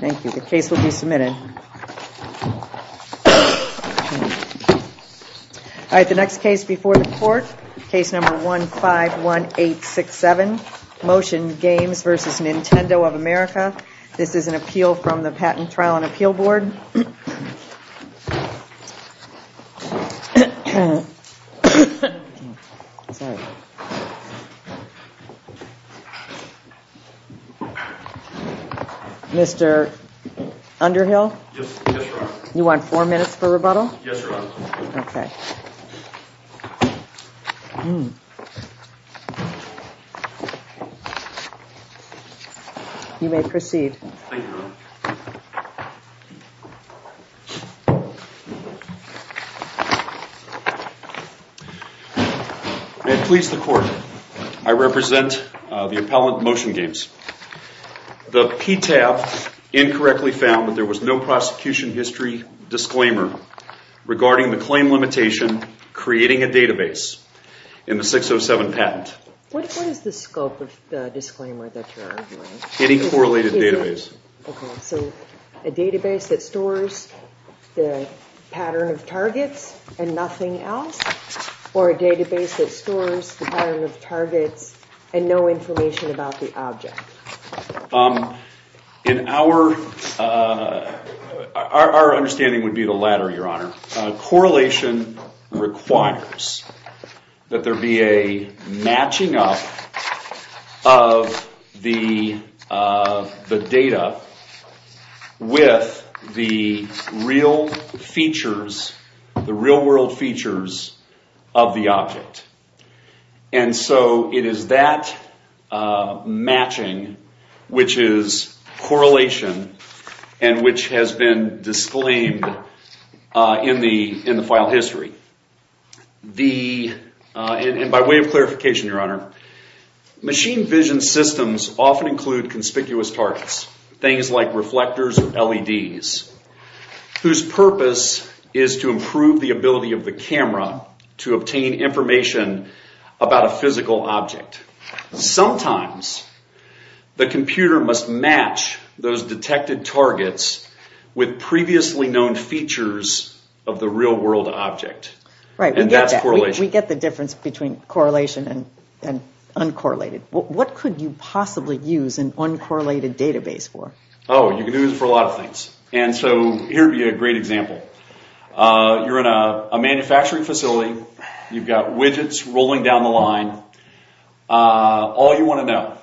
Thank you. The case will be submitted. All right, the next case before the court, case number 151867, Motion Games v. Nintendo of America. This is an appeal from the Patent Trial and Appeal Board. Mr. Underhill? Yes, Your Honor. You want four minutes for rebuttal? Yes, Your Honor. You may proceed. Thank you, Your Honor. May it please the court, I represent the appellant, Motion Games. The PTAF incorrectly found that there was no prosecution history disclaimer regarding the claim limitation creating a database in the 607 patent. What is the scope of the disclaimer that you're arguing? Any correlated database. Okay, so a database that stores the pattern of targets and nothing else? Or a database that stores the pattern of targets and no information about the object? Our understanding would be the latter, Your Honor. Correlation requires that there be a matching up of the data with the real world features of the object. And so it is that matching which is correlation and which has been disclaimed in the file history. And by way of clarification, Your Honor, machine vision systems often include conspicuous targets, things like reflectors or LEDs, whose purpose is to improve the ability of the camera to obtain information about a physical object. Sometimes the computer must match those detected targets with previously known features of the real world object. Right, we get that. We get the difference between correlation and uncorrelated. What could you possibly use an uncorrelated database for? Oh, you could use it for a lot of things. And so here would be a great example. You're in a manufacturing facility. You've got widgets rolling down the line. All you want to know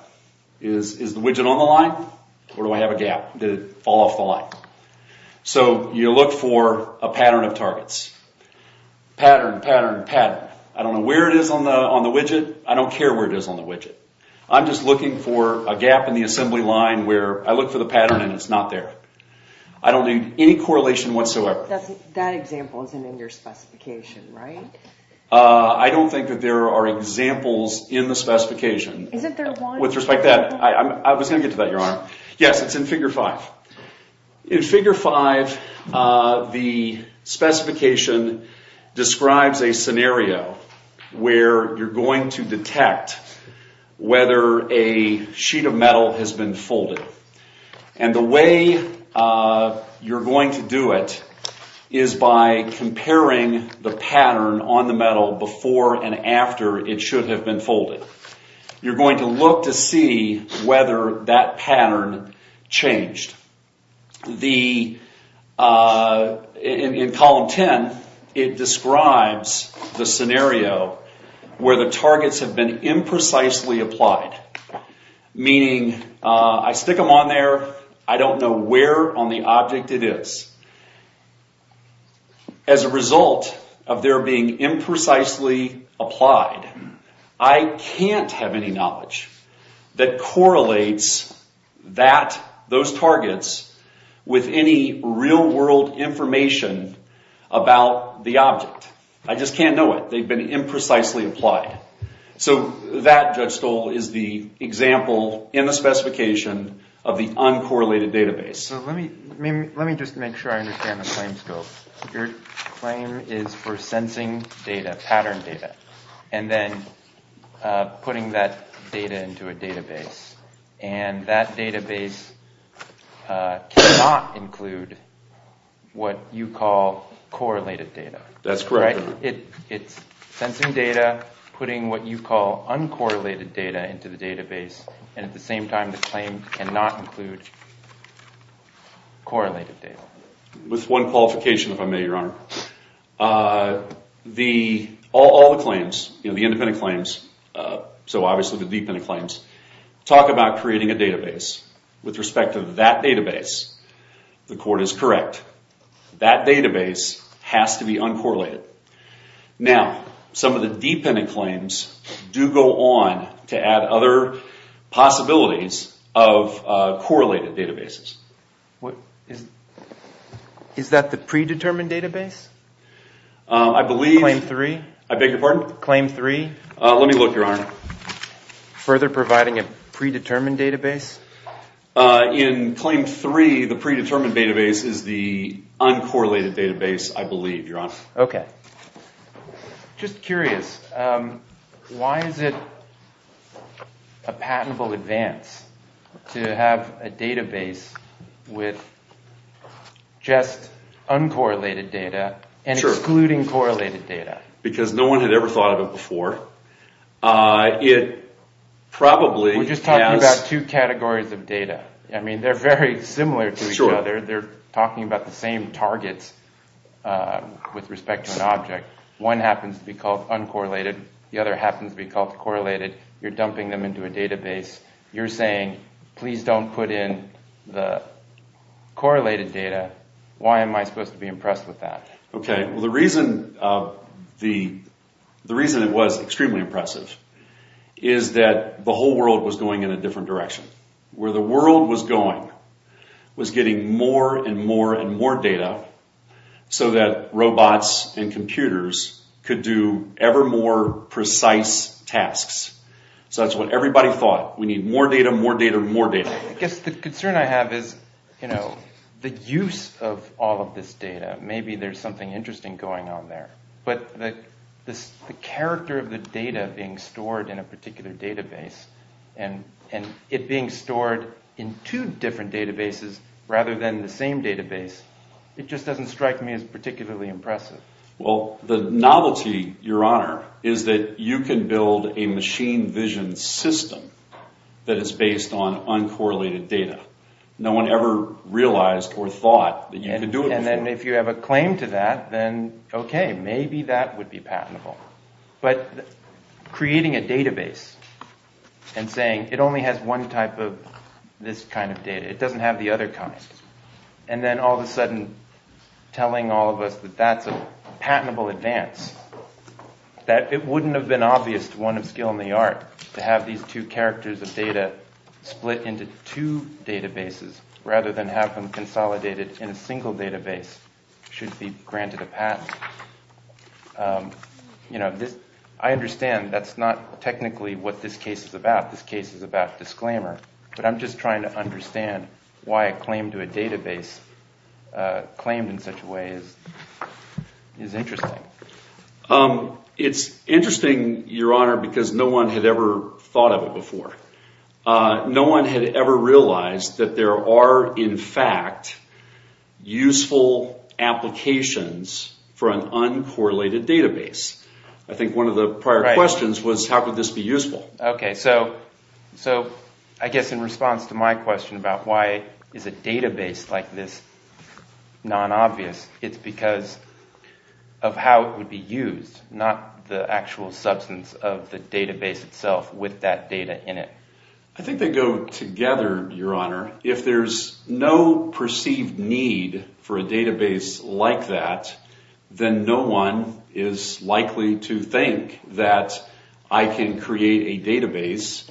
is, is the widget on the line or do I have a gap? Did it fall off the line? So you look for a pattern of targets. Pattern, pattern, pattern. I don't know where it is on the widget. I don't care where it is on the widget. I'm just looking for a gap in the assembly line where I look for the pattern and it's not there. I don't need any correlation whatsoever. That example isn't in your specification, right? I don't think that there are examples in the specification. With respect to that, I was going to get to that, Your Honor. Yes, it's in Figure 5. In Figure 5, the specification describes a scenario where you're going to detect whether a sheet of metal has been folded. And the way you're going to do it is by comparing the pattern on the metal before and after it should have been folded. You're going to look to see whether that pattern changed. In Column 10, it describes the scenario where the targets have been imprecisely applied. Meaning, I stick them on there. I don't know where on the object it is. As a result of their being imprecisely applied, I can't have any knowledge that correlates those targets with any real-world information about the object. I just can't know it. They've been imprecisely applied. That, Judge Stoll, is the example in the specification of the uncorrelated database. Let me just make sure I understand the claim scope. Your claim is for sensing data, pattern data, and then putting that data into a database. And that database cannot include what you call correlated data. That's correct. It's sensing data, putting what you call uncorrelated data into the database, and at the same time, the claim cannot include correlated data. With one qualification, if I may, Your Honor. All the claims, the independent claims, so obviously the dependent claims, talk about creating a database. With respect to that database, the court is correct. That database has to be uncorrelated. Now, some of the dependent claims do go on to add other possibilities of correlated databases. Is that the predetermined database? Claim 3? I beg your pardon? Claim 3? Let me look, Your Honor. Further providing a predetermined database? In Claim 3, the predetermined database is the uncorrelated database, I believe, Your Honor. Okay. Just curious. Why is it a patentable advance to have a database with just uncorrelated data and excluding correlated data? Because no one had ever thought of it before. We're just talking about two categories of data. They're very similar to each other. They're talking about the same targets with respect to an object. One happens to be called uncorrelated. The other happens to be called correlated. You're dumping them into a database. You're saying, please don't put in the correlated data. Why am I supposed to be impressed with that? The reason it was extremely impressive is that the whole world was going in a different direction. Where the world was going was getting more and more and more data so that robots and computers could do ever more precise tasks. That's what everybody thought. We need more data, more data, more data. I guess the concern I have is the use of all of this data. Maybe there's something interesting going on there. But the character of the data being stored in a particular database and it being stored in two different databases rather than the same database, it just doesn't strike me as particularly impressive. The novelty, Your Honor, is that you can build a machine vision system that is based on uncorrelated data. No one ever realized or thought that you could do it before. If you have a claim to that, then okay, maybe that would be patentable. But creating a database and saying it only has one type of this kind of data, it doesn't have the other kind, and then all of a sudden telling all of us that that's a patentable advance, that it wouldn't have been obvious to one of skill in the art to have these two characters of data split into two databases rather than have them consolidated in a single database should it be granted a patent. I understand that's not technically what this case is about. This case is about disclaimer, but I'm just trying to understand why a claim to a database claimed in such a way is interesting. It's interesting, Your Honor, because no one had ever thought of it before. No one had ever realized that there are, in fact, useful applications for an uncorrelated database. I think one of the prior questions was how could this be useful? I guess in response to my question about why is a database like this non-obvious, it's because of how it would be used, not the actual substance of the database itself with that data in it. I think they go together, Your Honor. If there's no perceived need for a database like that, then no one is likely to think that I can create a database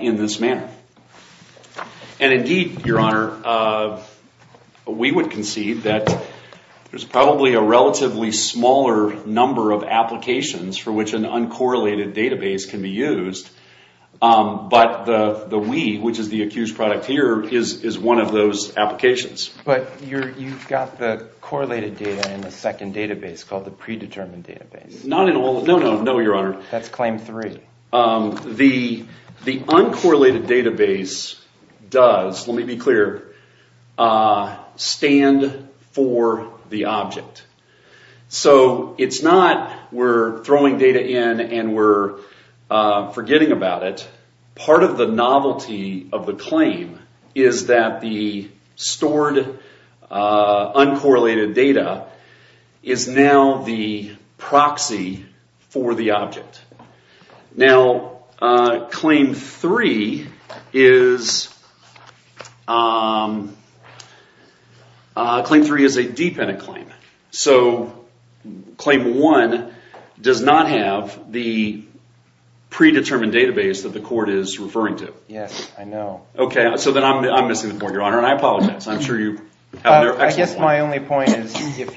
in this manner. Indeed, Your Honor, we would concede that there's probably a relatively smaller number of applications for which an uncorrelated database can be used, but the WE, which is the accused product here, is one of those applications. But you've got the correlated data in the second database called the predetermined database. No, Your Honor. That's claim three. The uncorrelated database does, let me be clear, stand for the object. So it's not we're throwing data in and we're forgetting about it. Part of the novelty of the claim is that the stored uncorrelated data is now the proxy for the object. Now, claim three is a deep-ended claim. So claim one does not have the predetermined database that the court is referring to. I'm missing the point, Your Honor, and I apologize. If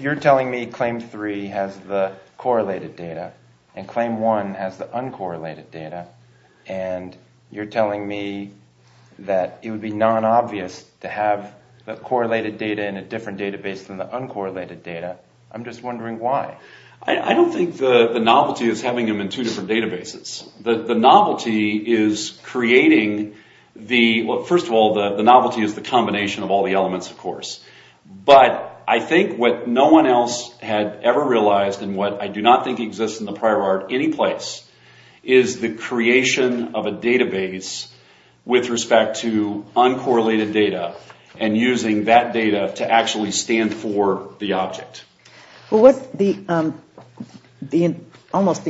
you're telling me claim three has the correlated data and claim one has the uncorrelated data, and you're telling me that it would be non-obvious to have the correlated data in a different database than the uncorrelated data, I'm just wondering why. I don't think the novelty is having them in two different databases. The novelty is creating the... First of all, the novelty is the combination of all the elements, of course. But I think what no one else had ever realized, and what I do not think exists in the prior art anyplace, is the creation of a database with respect to uncorrelated data and using that data to actually stand for the object. Almost the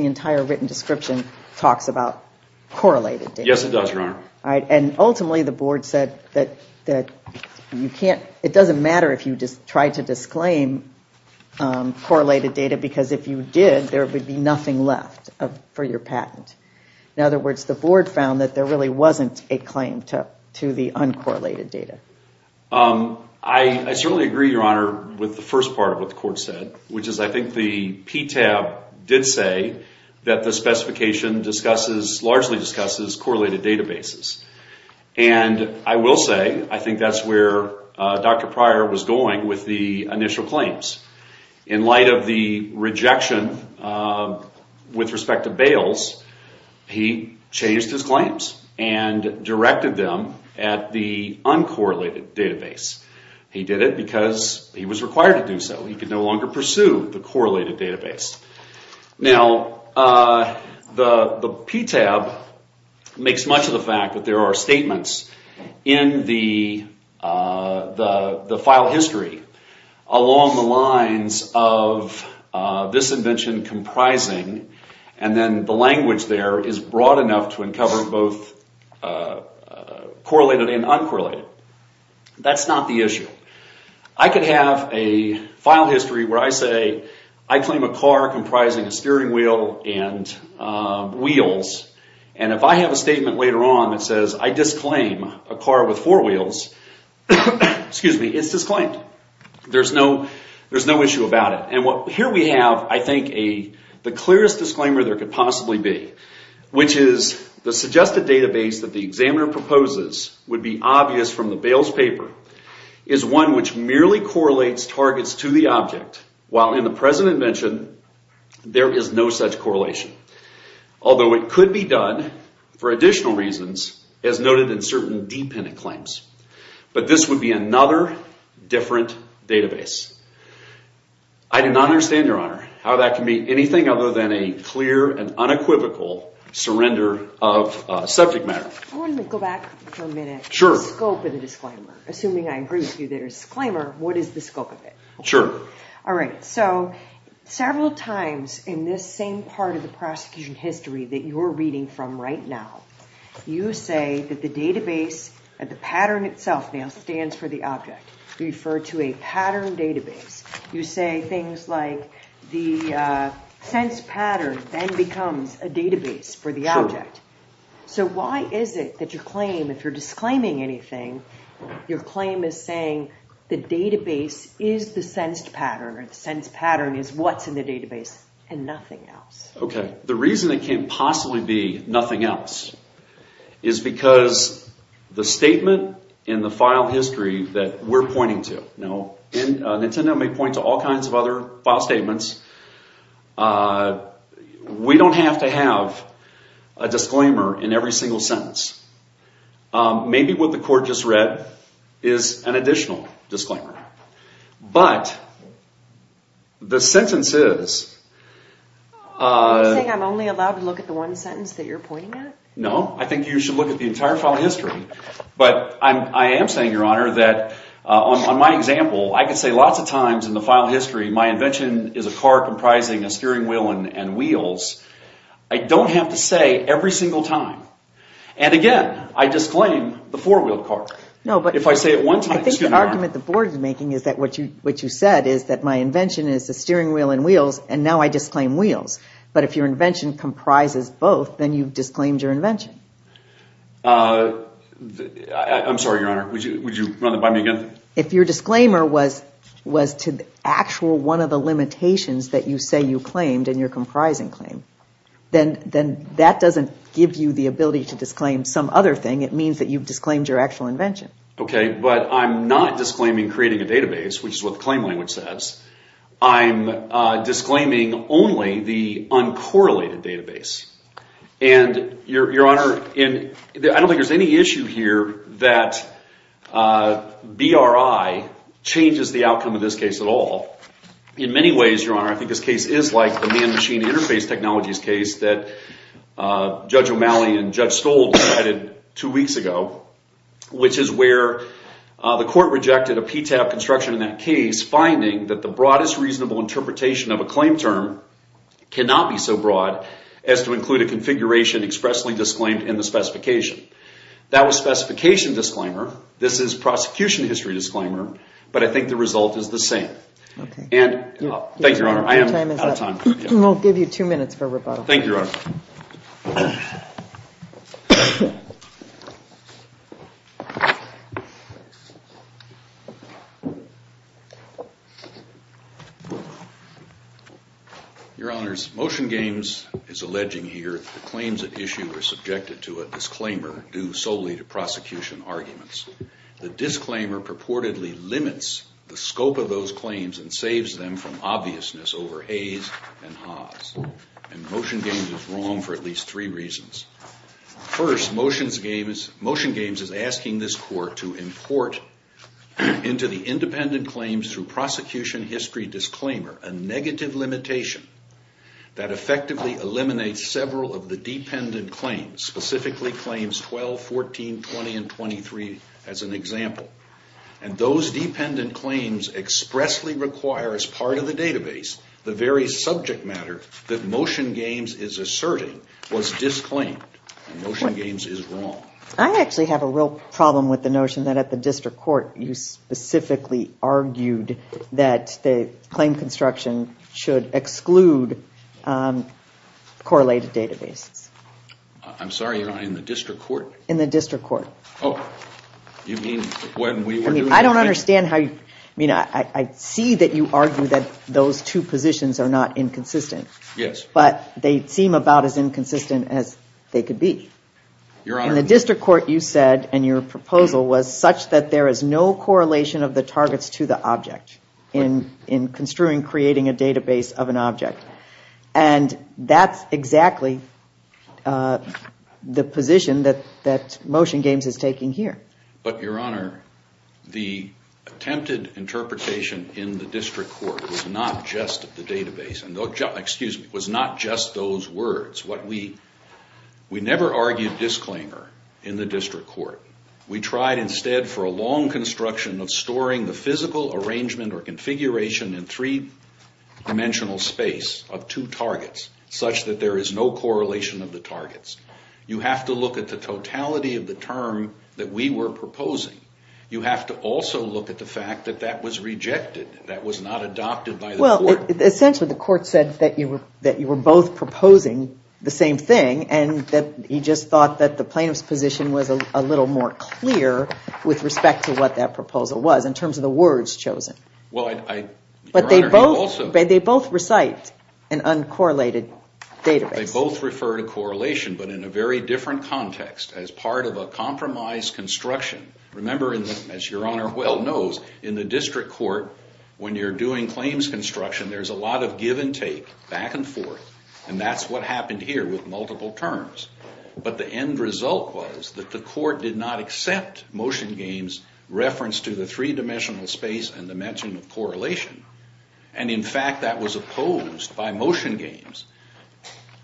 entire written description talks about correlated data. Yes, it does, Your Honor. And ultimately the board said that it doesn't matter if you try to disclaim correlated data, because if you did, there would be nothing left for your patent. In other words, the board found that there really wasn't a claim to the uncorrelated data. I certainly agree, Your Honor, with the first part of what the court said, which is I think the PTAB did say that the specification largely discusses correlated databases. And I will say I think that's where Dr. Pryor was going with the initial claims. In light of the rejection with respect to bails, he changed his claims and directed them at the uncorrelated database. He did it because he was required to do so. He could no longer pursue the correlated database. Now, the PTAB makes much of the fact that there are statements in the file history along the lines of this invention comprising, and then the language there is broad enough to uncover both correlated and uncorrelated. That's not the issue. I could have a file history where I say I claim a car comprising a steering wheel and wheels, and if I have a statement later on that says I disclaim a car with four wheels, excuse me, it's disclaimed. There's no issue about it. And here we have, I think, the clearest disclaimer there could possibly be, which is the suggested database that the examiner proposes would be obvious from the bails paper is one which merely correlates targets to the object, while in the present invention there is no such correlation. Although it could be done for additional reasons as noted in certain dependent claims. But this would be another different database. I do not understand, Your Honor, how that can be anything other than a clear and unequivocal surrender of subject matter. Go back for a minute to the scope of the disclaimer. Assuming I agree with you that it's a disclaimer, what is the scope of it? Several times in this same part of the prosecution history that you're reading from right now, you say that the database, the pattern itself now stands for the object. You refer to a pattern database. You say things like the sensed pattern then becomes a database for the object. So why is it that your claim, if you're disclaiming anything, your claim is saying the database is the sensed pattern, or the sensed pattern is what's in the database and nothing else? The reason it can't possibly be nothing else is because the statement in the file history that we're pointing to, and Nintendo may point to all kinds of other file statements, we don't have to have a disclaimer in every single sentence. Maybe what the court just read is an additional disclaimer. But the sentences... Are you saying I'm only allowed to look at the one sentence that you're pointing at? No. I think you should look at the entire file history. But I am saying, Your Honor, that on my example, I can say lots of times in the file history, my invention is a car comprising a steering wheel and wheels. I don't have to say every single time. And again, I disclaim the four-wheeled car. The argument the board is making is that what you said is that my invention is a steering wheel and wheels, and now I disclaim wheels. But if your invention comprises both, then you've disclaimed your invention. I'm sorry, Your Honor. Would you run that by me again? If your disclaimer was to the actual one of the limitations that you say you claimed in your comprising claim, then that doesn't give you the ability to disclaim some other thing. It means that you've disclaimed your actual invention. Okay. But I'm not disclaiming creating a database, which is what the claim language says. I'm disclaiming only the uncorrelated database. I don't think there's any issue here that BRI changes the outcome of this case at all. In many ways, Your Honor, I think this case is like the man-machine interface technologies case that Judge O'Malley and Judge Stolz cited two weeks ago, which is where the court rejected a PTAB construction in that case, finding that the broadest reasonable interpretation of a claim term cannot be so broad as to include a configuration expressly disclaimed in the specification. That was specification disclaimer. This is prosecution history disclaimer. But I think the result is the same. Thank you, Your Honor. I am out of time. Your Honors, Motion Games is alleging here that the claims at issue are subjected to a disclaimer due solely to prosecution arguments. The disclaimer purportedly limits the scope of those claims and saves them from obviousness over A's and Ha's. And Motion Games is wrong for at least three reasons. First, Motion Games is asking this court to import into the independent claims through prosecution history disclaimer a negative limitation that effectively eliminates several of the dependent claims, specifically claims 12, 14, 20, and 23, as an example. And those dependent claims expressly require, as part of the database, the very subject matter that Motion Games is asserting was disclaimed. And Motion Games is wrong. I actually have a real problem with the notion that at the district court you specifically argued that the claim construction should exclude correlated databases. I'm sorry, Your Honor, in the district court? In the district court. I see that you argue that those two positions are not inconsistent. But they seem about as inconsistent as they could be. In the district court you said, and your proposal was such that there is no correlation of the targets to the object in construing, creating a database of an object. And that's exactly the position that Motion Games is taking here. But, Your Honor, the attempted interpretation in the district court was not just the database. Excuse me, was not just those words. We never argued disclaimer in the district court. We tried instead for a long construction of storing the physical arrangement or configuration in three-dimensional space of two targets, such that there is no correlation of the targets. You have to look at the totality of the term that we were proposing. You have to also look at the fact that that was rejected, that was not adopted by the court. Well, essentially the court said that you were both proposing the same thing and that he just thought that the plaintiff's position was a little more clear with respect to what that proposal was in terms of the words chosen. But they both recite an uncorrelated database. They both refer to correlation, but in a very different context, as part of a compromise construction. Remember, as Your Honor well knows, in the district court, when you're doing claims construction, there's a lot of give and take, back and forth. And that's what happened here with multiple terms. But the end result was that the court did not accept Motion Games' reference to the three-dimensional space and the mention of correlation. And in fact, that was opposed by Motion Games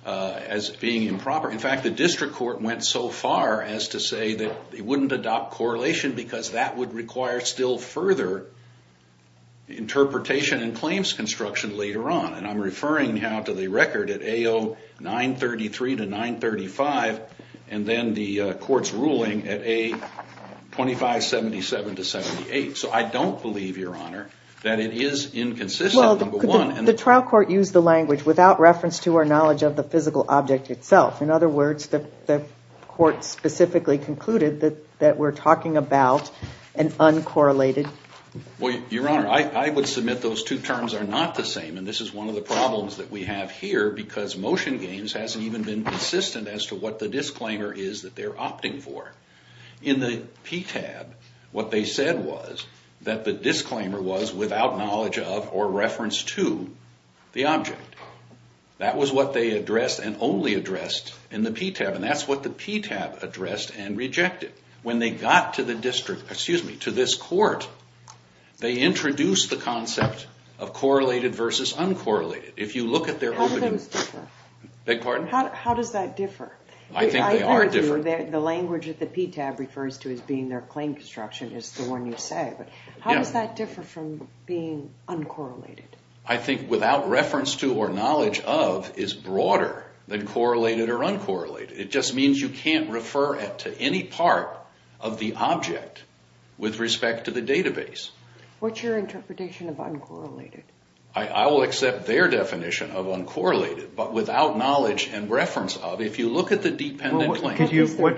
as being improper. In fact, the district court went so far as to say that they wouldn't adopt correlation because that would require still further interpretation and claims construction later on. And I'm referring now to the record at AO 933 to 935, and then the court's ruling at A 2577 to 78. So I don't believe, Your Honor, that it is inconsistent, number one. Well, the trial court used the language without reference to our knowledge of the physical object itself. In other words, the court specifically concluded that we're talking about an uncorrelated... Well, Your Honor, I would submit those two terms are not the same, and this is one of the problems that we have here, because Motion Games hasn't even been consistent as to what the disclaimer is that they're opting for. In the PTAB, what they said was that the disclaimer was without knowledge of or reference to the object. That was what they addressed and only addressed in the PTAB, and that's what the PTAB addressed and rejected. When they got to this court, they introduced the concept of correlated versus uncorrelated. If you look at their opening... How do those differ? Beg your pardon? How does that differ? The language that the PTAB refers to as being their claim construction is the one you say, but how does that differ from being uncorrelated? I think without reference to or knowledge of is broader than correlated or uncorrelated. It just means you can't refer to any part of the object with respect to the database. What's your interpretation of uncorrelated? I will accept their definition of uncorrelated, but without knowledge and reference of, if you look at the dependent claim...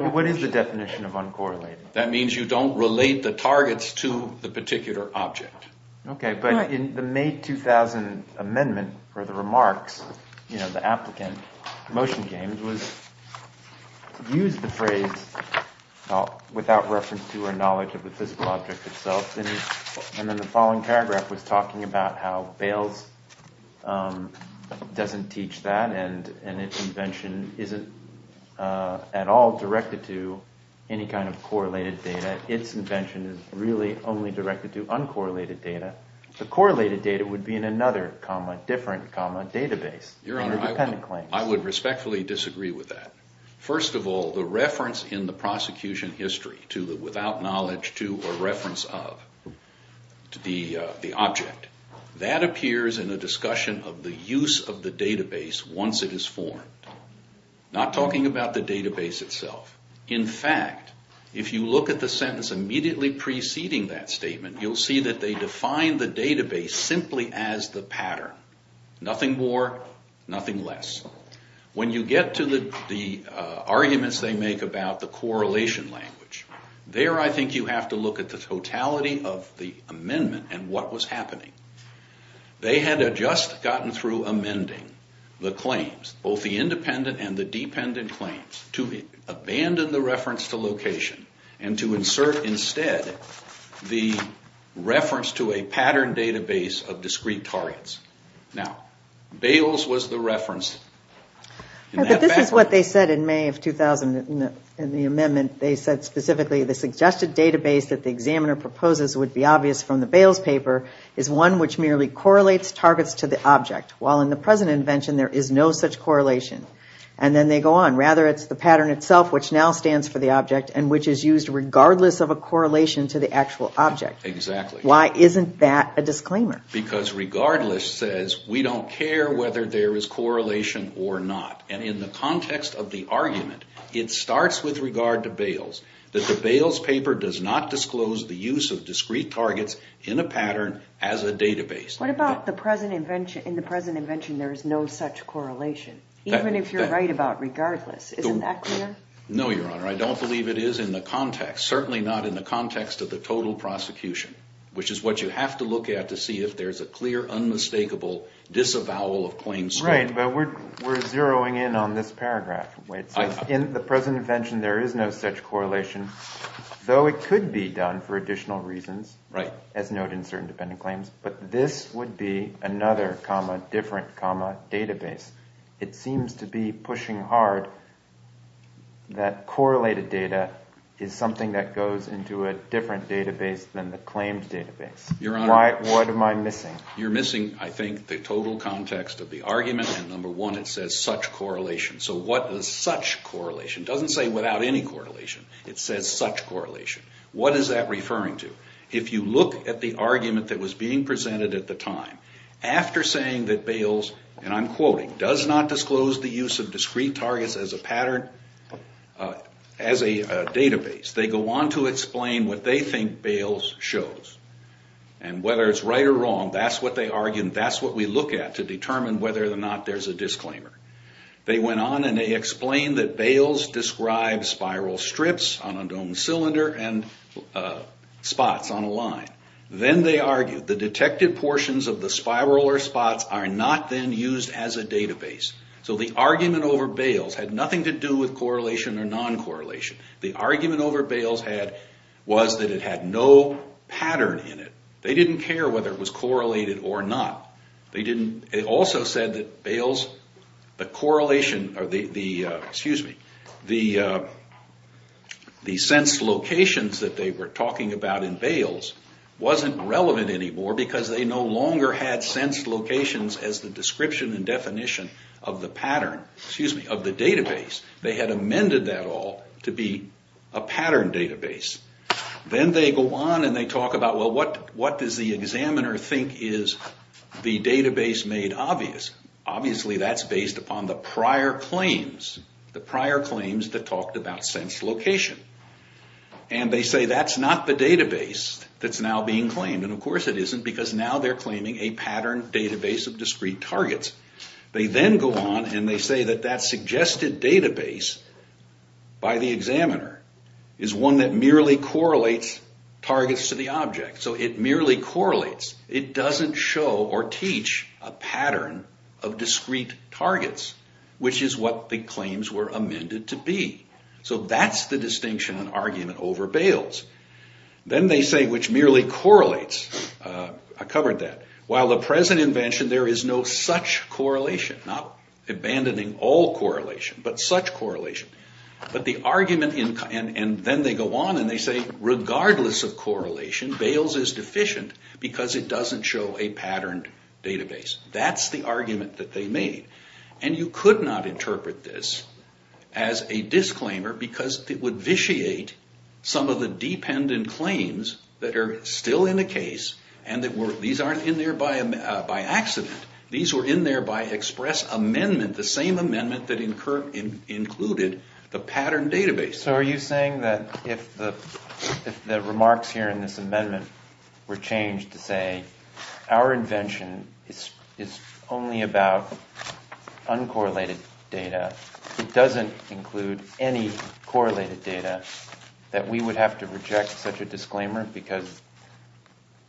What is the definition of uncorrelated? That means you don't relate the targets to the particular object. Okay, but in the May 2000 amendment for the remarks, the applicant, Motion Games, used the phrase without reference to or knowledge of the physical object itself, and then the following paragraph was talking about how Bales doesn't teach that, and its invention isn't at all directed to any kind of correlated data. Its invention is really only directed to uncorrelated data. The correlated data would be in another comma different comma database. Your Honor, I would respectfully disagree with that. First of all, the reference in the prosecution history to the without knowledge to or reference of the object, that appears in a discussion of the use of the database once it is formed. Not talking about the database itself. In fact, if you look at the sentence immediately preceding that statement, you'll see that they define the database simply as the pattern. Nothing more, nothing less. When you get to the arguments they make about the correlation language, there I think you have to look at the totality of the amendment and what was happening. They had just gotten through amending the claims, both the independent and the dependent claims, to abandon the reference to location and to insert instead the reference to a pattern database of discrete targets. Now, Bales was the reference. This is what they said in May of 2000 in the amendment. They said specifically the suggested database that the examiner proposes would be obvious from the Bales paper is one which merely correlates targets to the object. While in the present invention there is no such correlation. And then they go on. Rather, it's the pattern itself which now stands for the object and which is used regardless of a correlation to the actual object. Why isn't that a disclaimer? Because regardless says we don't care whether there is correlation or not. And in the context of the argument, it starts with regard to Bales. That the Bales paper does not disclose the use of discrete targets in a pattern as a database. What about in the present invention there is no such correlation? Even if you're right about regardless. Isn't that clear? No, Your Honor. I don't believe it is in the context. Certainly not in the context of the total prosecution. Which is what you have to look at to see if there is a clear, unmistakable disavowal of claims. Right, but we're zeroing in on this paragraph. In the present invention there is no such correlation. Though it could be done for additional reasons, as noted in certain dependent claims. But this would be another comma different comma database. It seems to be pushing hard that correlated data is something that goes into a different database than the claimed database. What am I missing? You're missing, I think, the total context of the argument. And number one, it says such correlation. So what is such correlation? It doesn't say without any correlation. It says such correlation. What is that referring to? If you look at the argument that was being presented at the time. After saying that Bales, and I'm quoting, does not disclose the use of discrete targets as a pattern, as a database. They go on to explain what they think Bales shows. And whether it's right or wrong, that's what they argue and that's what we look at to determine whether or not there's a disclaimer. They went on and they explained that Bales describes spiral strips on a domed cylinder and spots on a line. Then they argued the detected portions of the spiral or spots are not then used as a database. So the argument over Bales had nothing to do with correlation or non-correlation. The argument over Bales was that it had no pattern in it. They didn't care whether it was correlated or not. They also said that Bales, the correlation, excuse me, the sense locations that they were talking about in Bales wasn't relevant anymore because they no longer had sense locations as the description and definition of the pattern, excuse me, of the database. They had amended that all to be a pattern database. Then they go on and they talk about, well, what does the examiner think is the database made obvious? Obviously that's based upon the prior claims, the prior claims that talked about sense location. And they say that's not the database that's now being claimed. And of course it isn't because now they're claiming a pattern database of discrete targets. They then go on and they say that that suggested database by the examiner is one that merely correlates targets to the object. So it merely correlates. It doesn't show or teach a pattern of discrete targets, which is what the claims were amended to be. So that's the distinction an argument over Bales. Then they say, which merely correlates, I covered that. While the present invention, there is no such correlation, not abandoning all correlation, but such correlation. But the argument, and then they go on and they say regardless of correlation, Bales is deficient because it doesn't show a patterned database. That's the argument that they made. And you could not interpret this as a disclaimer because it would vitiate some of the dependent claims that are still in the case and that these aren't in there by accident. These were in there by express amendment, the same amendment that included the patterned database. So are you saying that if the remarks here in this amendment were changed to say our invention is only about uncorrelated data, it doesn't include any correlated data, that we would have to reject such a disclaimer because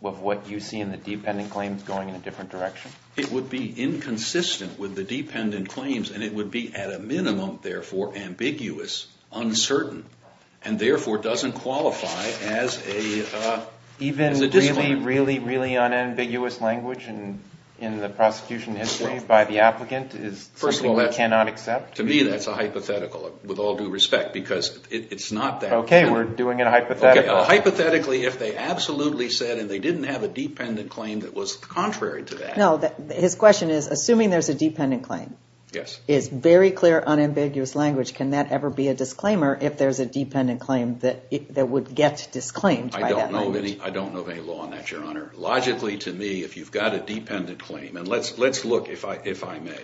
of what you see in the dependent claims going in a different direction? It would be inconsistent with the dependent claims, and it would be at a minimum, therefore, ambiguous, uncertain, and therefore doesn't qualify as a disclaimer. Even really, really, really unambiguous language in the prosecution history by the applicant is something we cannot accept? To me, that's a hypothetical, with all due respect, because it's not that. Okay, we're doing it hypothetically. Hypothetically, if they absolutely said and they didn't have a dependent claim that was contrary to that. No, his question is, assuming there's a dependent claim, it's very clear, unambiguous language. Can that ever be a disclaimer if there's a dependent claim that would get disclaimed? I don't know of any law on that, Your Honor. Logically, to me, if you've got a dependent claim, and let's look, if I may,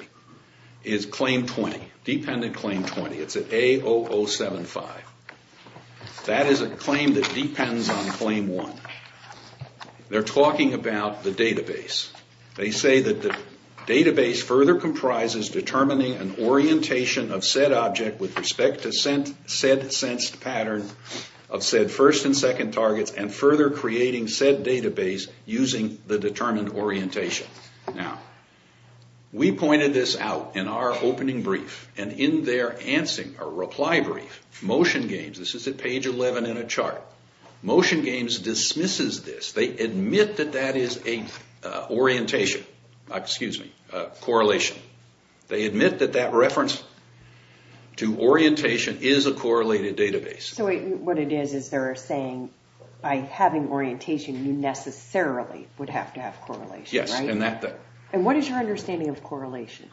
is claim 20, dependent claim 20. It's at A0075. That is a claim that depends on claim one. They're talking about the database. They say that the database further comprises determining an orientation of said object with respect to said sensed pattern of said first and second targets, and further creating said database using the determined orientation. Now, we pointed this out in our opening brief, and in their answer, or reply brief, Motion Games, this is at page 11 in a chart, Motion Games dismisses this. They admit that that is a orientation, excuse me, correlation. They admit that that reference to orientation is a correlated database. So what it is is they're saying by having orientation, you necessarily would have to have correlation, right? Yes, and that. And what is your understanding of correlation?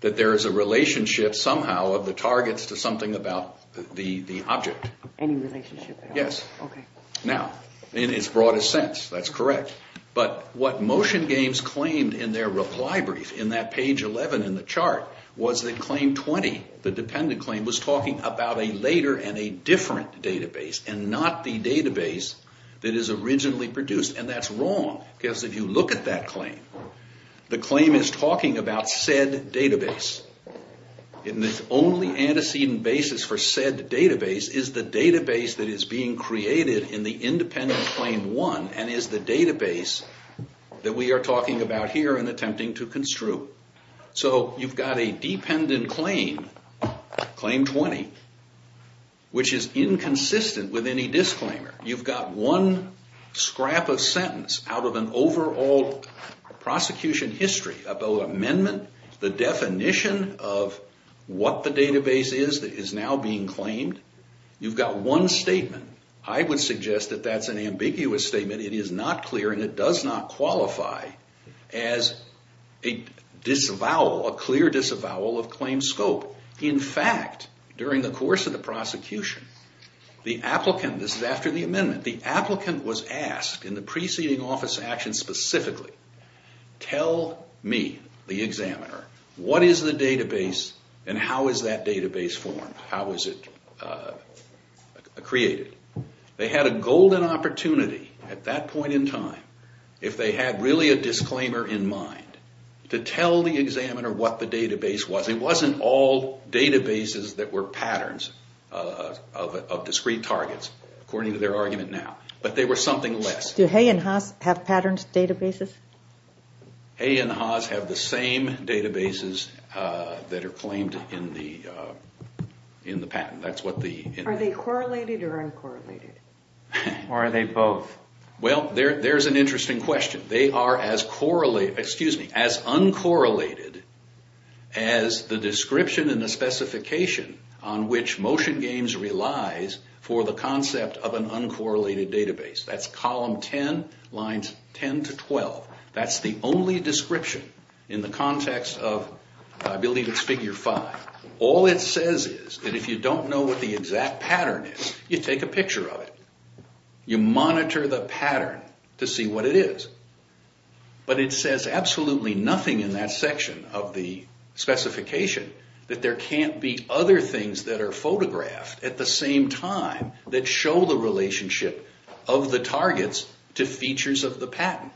That there is a relationship somehow of the targets to something about the object. Any relationship at all? Yes. Okay. Now, in its broadest sense, that's correct. But what Motion Games claimed in their reply brief in that page 11 in the chart was that claim 20, the dependent claim, was talking about a later and a different database, and not the database that is originally produced. And that's wrong, because if you look at that claim, the claim is talking about said database. And the only antecedent basis for said database is the database that is being created in the independent claim 1, and is the database that we are talking about here and attempting to construe. So you've got a dependent claim, claim 20, which is inconsistent with any disclaimer. You've got one scrap of sentence out of an overall prosecution history about amendment, the definition of what the database is that is now being claimed. You've got one statement. I would suggest that that's an ambiguous statement. It is not clear, and it does not qualify as a disavowal, a clear disavowal of claim scope. In fact, during the course of the prosecution, the applicant, this is after the amendment, the applicant was asked in the preceding office action specifically, tell me, the examiner, what is the database and how is that database formed? How is it created? They had a golden opportunity at that point in time, if they had really a disclaimer in mind, to tell the examiner what the database was. It wasn't all databases that were patterns of discrete targets, according to their argument now, but they were something less. Do Hay and Haas have patterned databases? Hay and Haas have the same databases that are claimed in the patent. Are they correlated or uncorrelated, or are they both? Well, there's an interesting question. They are as uncorrelated as the description and the specification on which Motion Games relies for the concept of an uncorrelated database. That's column 10, lines 10 to 12. That's the only description in the context of, I believe it's figure 5. All it says is that if you don't know what the exact pattern is, you take a picture of it. You monitor the pattern to see what it is, but it says absolutely nothing in that section of the specification that there can't be other things that are photographed at the same time that show the relationship of the targets to features of the patent,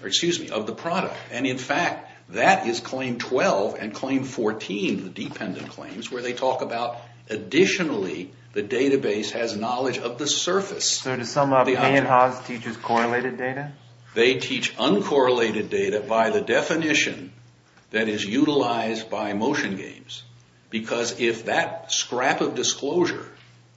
or excuse me, of the product. And in fact, that is claim 12 and claim 14, the dependent claims, where they talk about additionally the database has knowledge of the surface. So do some of Hay and Haas teachers correlated data? They teach uncorrelated data by the definition that is utilized by Motion Games, because if that scrap of disclosure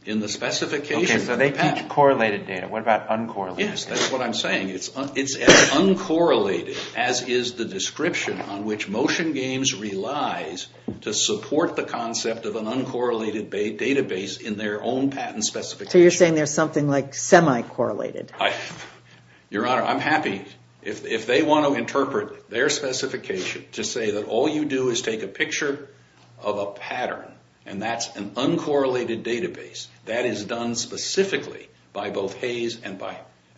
in the specification of the patent... Okay, so they teach correlated data. What about uncorrelated data? Yes, that's what I'm saying. It's as uncorrelated as is the description on which Motion Games relies to support the concept of an uncorrelated database in their own patent specification. So you're saying there's something like semi-correlated? Your Honor, I'm happy, if they want to interpret their specification to say that all you do is take a picture of a pattern and that's an uncorrelated database, that is done specifically by both Hay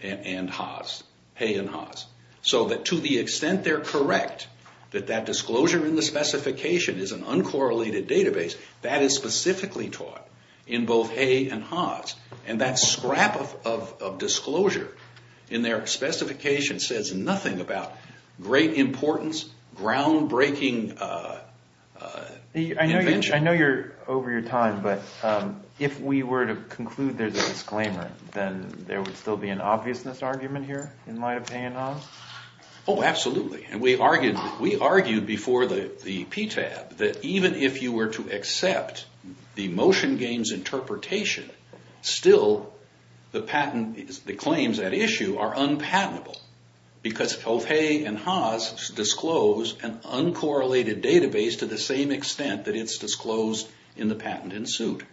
and Haas. So that to the extent they're correct, that that disclosure in the specification is an uncorrelated database, that is specifically taught in both Hay and Haas. And that scrap of disclosure in their specification says nothing about great importance, groundbreaking invention. I know you're over your time, but if we were to conclude there's a disclaimer, then there would still be an obviousness argument here in light of Hay and Haas? Oh, absolutely. And we argued before the PTAB that even if you were to accept the Motion Games interpretation, still the patent claims at issue are unpatentable because both Hay and Haas disclose an uncorrelated database to the same extent that it's disclosed in the patent in suit.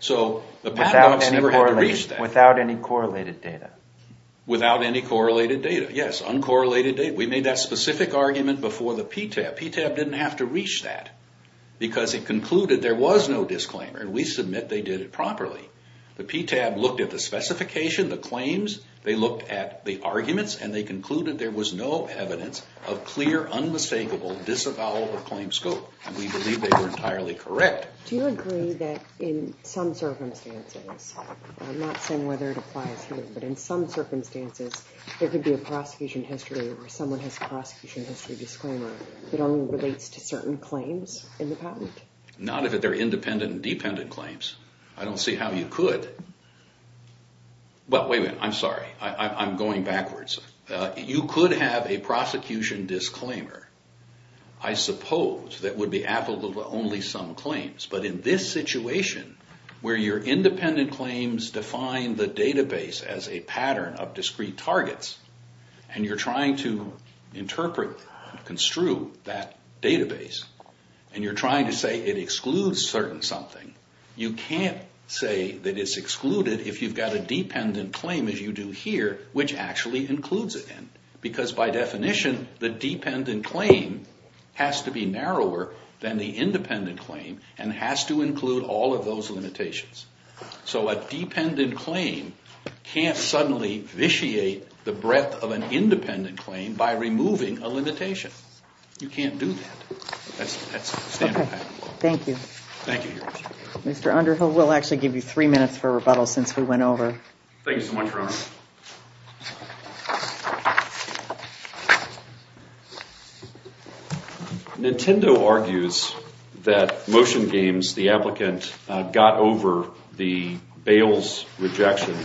So the patent office never had to reach that. Without any correlated data? Without any correlated data, yes, uncorrelated data. We made that specific argument before the PTAB. The PTAB didn't have to reach that because it concluded there was no disclaimer, and we submit they did it properly. The PTAB looked at the specification, the claims, they looked at the arguments, and they concluded there was no evidence of clear, unmistakable, disavowal of claim scope. And we believe they were entirely correct. Do you agree that in some circumstances, not saying whether it applies here, but in some circumstances there could be a prosecution history where someone has a prosecution history disclaimer that only relates to certain claims in the patent? Not if they're independent and dependent claims. I don't see how you could. But wait a minute, I'm sorry. I'm going backwards. You could have a prosecution disclaimer, I suppose, that would be applicable to only some claims. But in this situation where your independent claims define the database as a pattern of discrete targets and you're trying to interpret, construe that database, and you're trying to say it excludes certain something, you can't say that it's excluded if you've got a dependent claim as you do here, which actually includes it. Because by definition, the dependent claim has to be narrower than the independent claim and has to include all of those limitations. So a dependent claim can't suddenly vitiate the breadth of an independent claim by removing a limitation. You can't do that. That's standard patent law. Thank you. Thank you, Your Honor. Mr. Underhill, we'll actually give you three minutes for rebuttal since we went over. Thank you so much, Your Honor. Thank you. Nintendo argues that Motion Games, the applicant, got over the bails rejection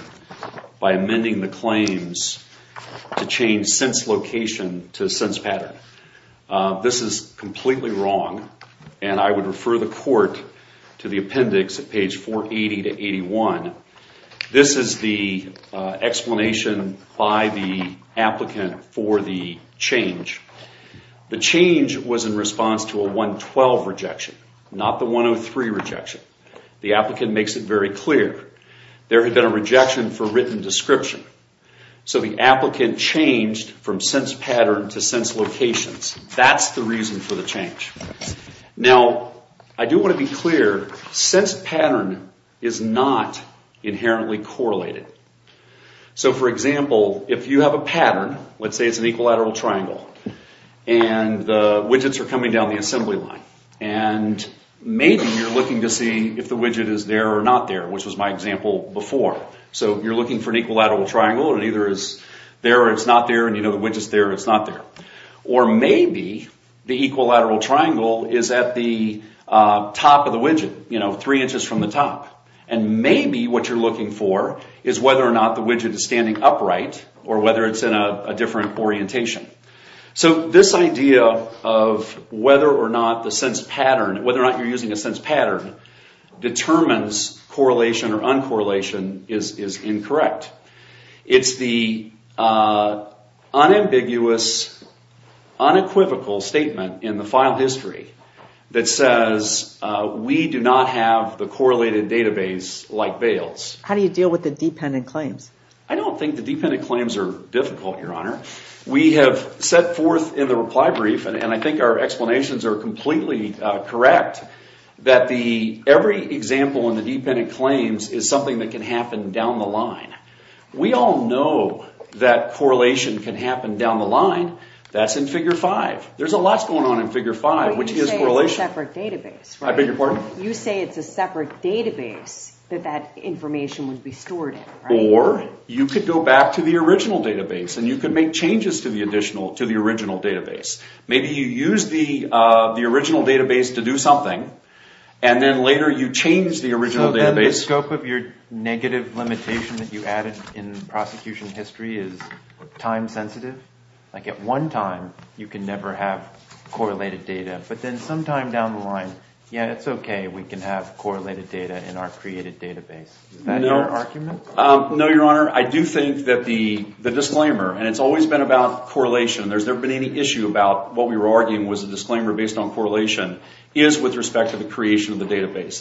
by amending the claims to change sense location to sense pattern. This is completely wrong, and I would refer the court to the appendix at page 480 to 81. This is the explanation by the applicant for the change. The change was in response to a 112 rejection, not the 103 rejection. The applicant makes it very clear. There had been a rejection for written description. So the applicant changed from sense pattern to sense locations. That's the reason for the change. Now, I do want to be clear. Sense pattern is not inherently correlated. So, for example, if you have a pattern, let's say it's an equilateral triangle, and the widgets are coming down the assembly line, and maybe you're looking to see if the widget is there or not there, which was my example before. So you're looking for an equilateral triangle, and either it's there or it's not there, and you know the widget's there or it's not there. Or maybe the equilateral triangle is at the top of the widget, you know, three inches from the top. And maybe what you're looking for is whether or not the widget is standing upright or whether it's in a different orientation. So this idea of whether or not you're using a sense pattern determines correlation or uncorrelation is incorrect. It's the unambiguous, unequivocal statement in the file history that says we do not have the correlated database like Bales. How do you deal with the dependent claims? I don't think the dependent claims are difficult, Your Honor. We have set forth in the reply brief, and I think our explanations are completely correct, that every example in the dependent claims is something that can happen down the line. We all know that correlation can happen down the line. That's in Figure 5. There's a lot going on in Figure 5, which is correlation. You say it's a separate database, right? I beg your pardon? You say it's a separate database that that information would be stored in, right? Or you could go back to the original database, and you could make changes to the original database. Maybe you use the original database to do something, and then later you change the original database. So then the scope of your negative limitation that you added in prosecution history is time sensitive? Like at one time, you can never have correlated data, but then sometime down the line, yeah, it's okay. We can have correlated data in our created database. Is that your argument? No, Your Honor. I do think that the disclaimer, and it's always been about correlation. There's never been any issue about what we were arguing was a disclaimer based on correlation, is with respect to the creation of the database.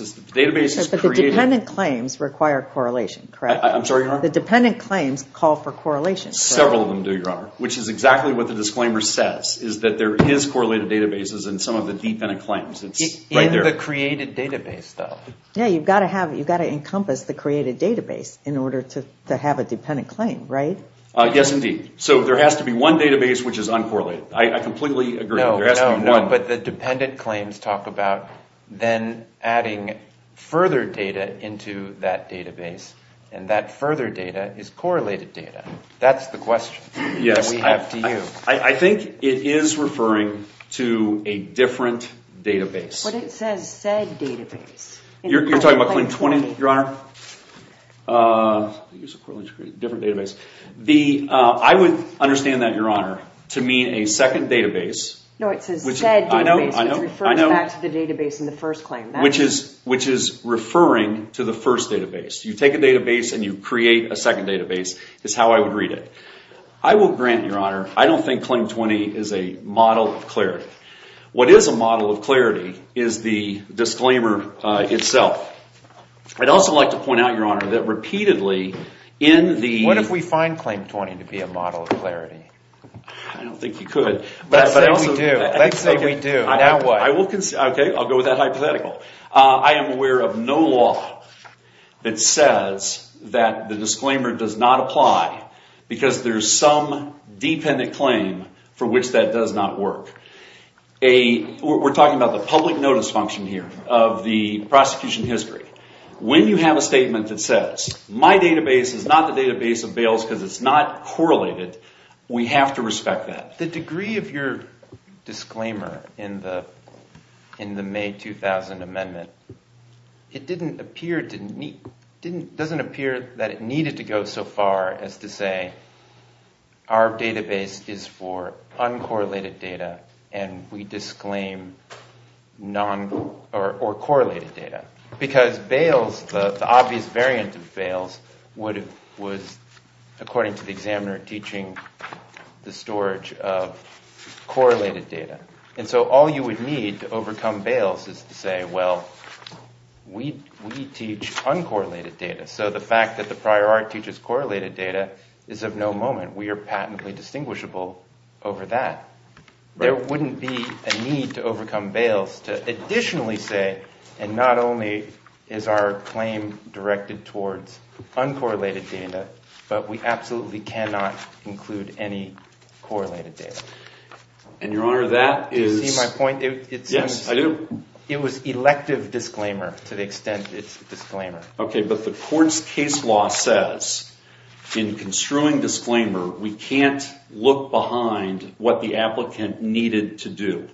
But the dependent claims require correlation, correct? I'm sorry, Your Honor? The dependent claims call for correlation, correct? Several of them do, Your Honor, which is exactly what the disclaimer says, is that there is correlated databases in some of the dependent claims. It's right there. In the created database, though. Yeah, you've got to encompass the created database in order to have a dependent claim, right? Yes, indeed. So there has to be one database which is uncorrelated. I completely agree. No, no. There has to be one. But the dependent claims talk about then adding further data into that database, and that further data is correlated data. That's the question that we have to you. Yes, I think it is referring to a different database. But it says said database. You're talking about claim 20, Your Honor? Different database. I would understand that, Your Honor, to mean a second database. No, it says said database. It's referring back to the database in the first claim. Which is referring to the first database. You take a database and you create a second database is how I would read it. I will grant, Your Honor, I don't think claim 20 is a model of clarity. What is a model of clarity is the disclaimer itself. I'd also like to point out, Your Honor, that repeatedly in the What if we find claim 20 to be a model of clarity? I don't think you could. Let's say we do. Let's say we do. Now what? Okay, I'll go with that hypothetical. I am aware of no law that says that the disclaimer does not apply because there's some dependent claim for which that does not work. We're talking about the public notice function here of the prosecution history. When you have a statement that says my database is not the database of Bales because it's not correlated, we have to respect that. The degree of your disclaimer in the May 2000 amendment, it doesn't appear that it needed to go so far as to say our database is for uncorrelated data and we disclaim correlated data. Because Bales, the obvious variant of Bales, was according to the examiner teaching the storage of correlated data. And so all you would need to overcome Bales is to say, well, we teach uncorrelated data. So the fact that the prior art teaches correlated data is of no moment. We are patently distinguishable over that. There wouldn't be a need to overcome Bales to additionally say, and not only is our claim directed towards uncorrelated data, but we absolutely cannot include any correlated data. And, Your Honor, that is... Do you see my point? Yes, I do. It was elective disclaimer to the extent it's a disclaimer. Okay, but the court's case law says in construing disclaimer, we can't look behind what the applicant needed to do.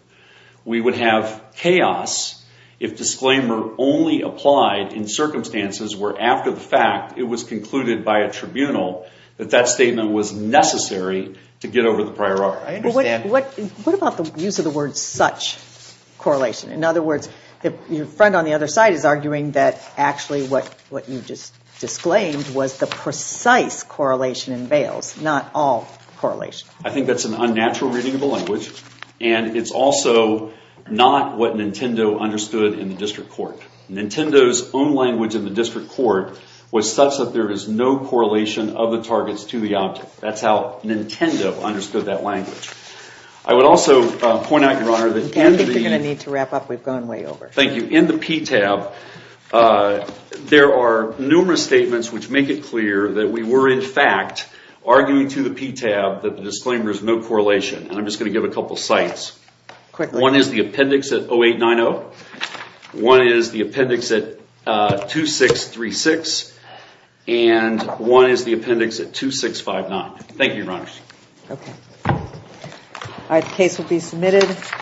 We would have chaos if disclaimer only applied in circumstances where after the fact it was concluded by a tribunal that that statement was necessary to get over the prior art. I understand. What about the use of the word such correlation? In other words, your friend on the other side is arguing that actually what you just disclaimed was the precise correlation in Bales, not all correlation. I think that's an unnatural reading of the language and it's also not what Nintendo understood in the district court. Nintendo's own language in the district court was such that there is no correlation of the targets to the object. That's how Nintendo understood that language. I would also point out, Your Honor, that... I think you're going to need to wrap up. We've gone way over. Thank you. In the PTAB, there are numerous statements which make it clear that we were, in fact, arguing to the PTAB that the disclaimer is no correlation. I'm just going to give a couple of sites. One is the appendix at 0890. One is the appendix at 2636. And one is the appendix at 2659. Thank you, Your Honor. Okay. The case will be submitted.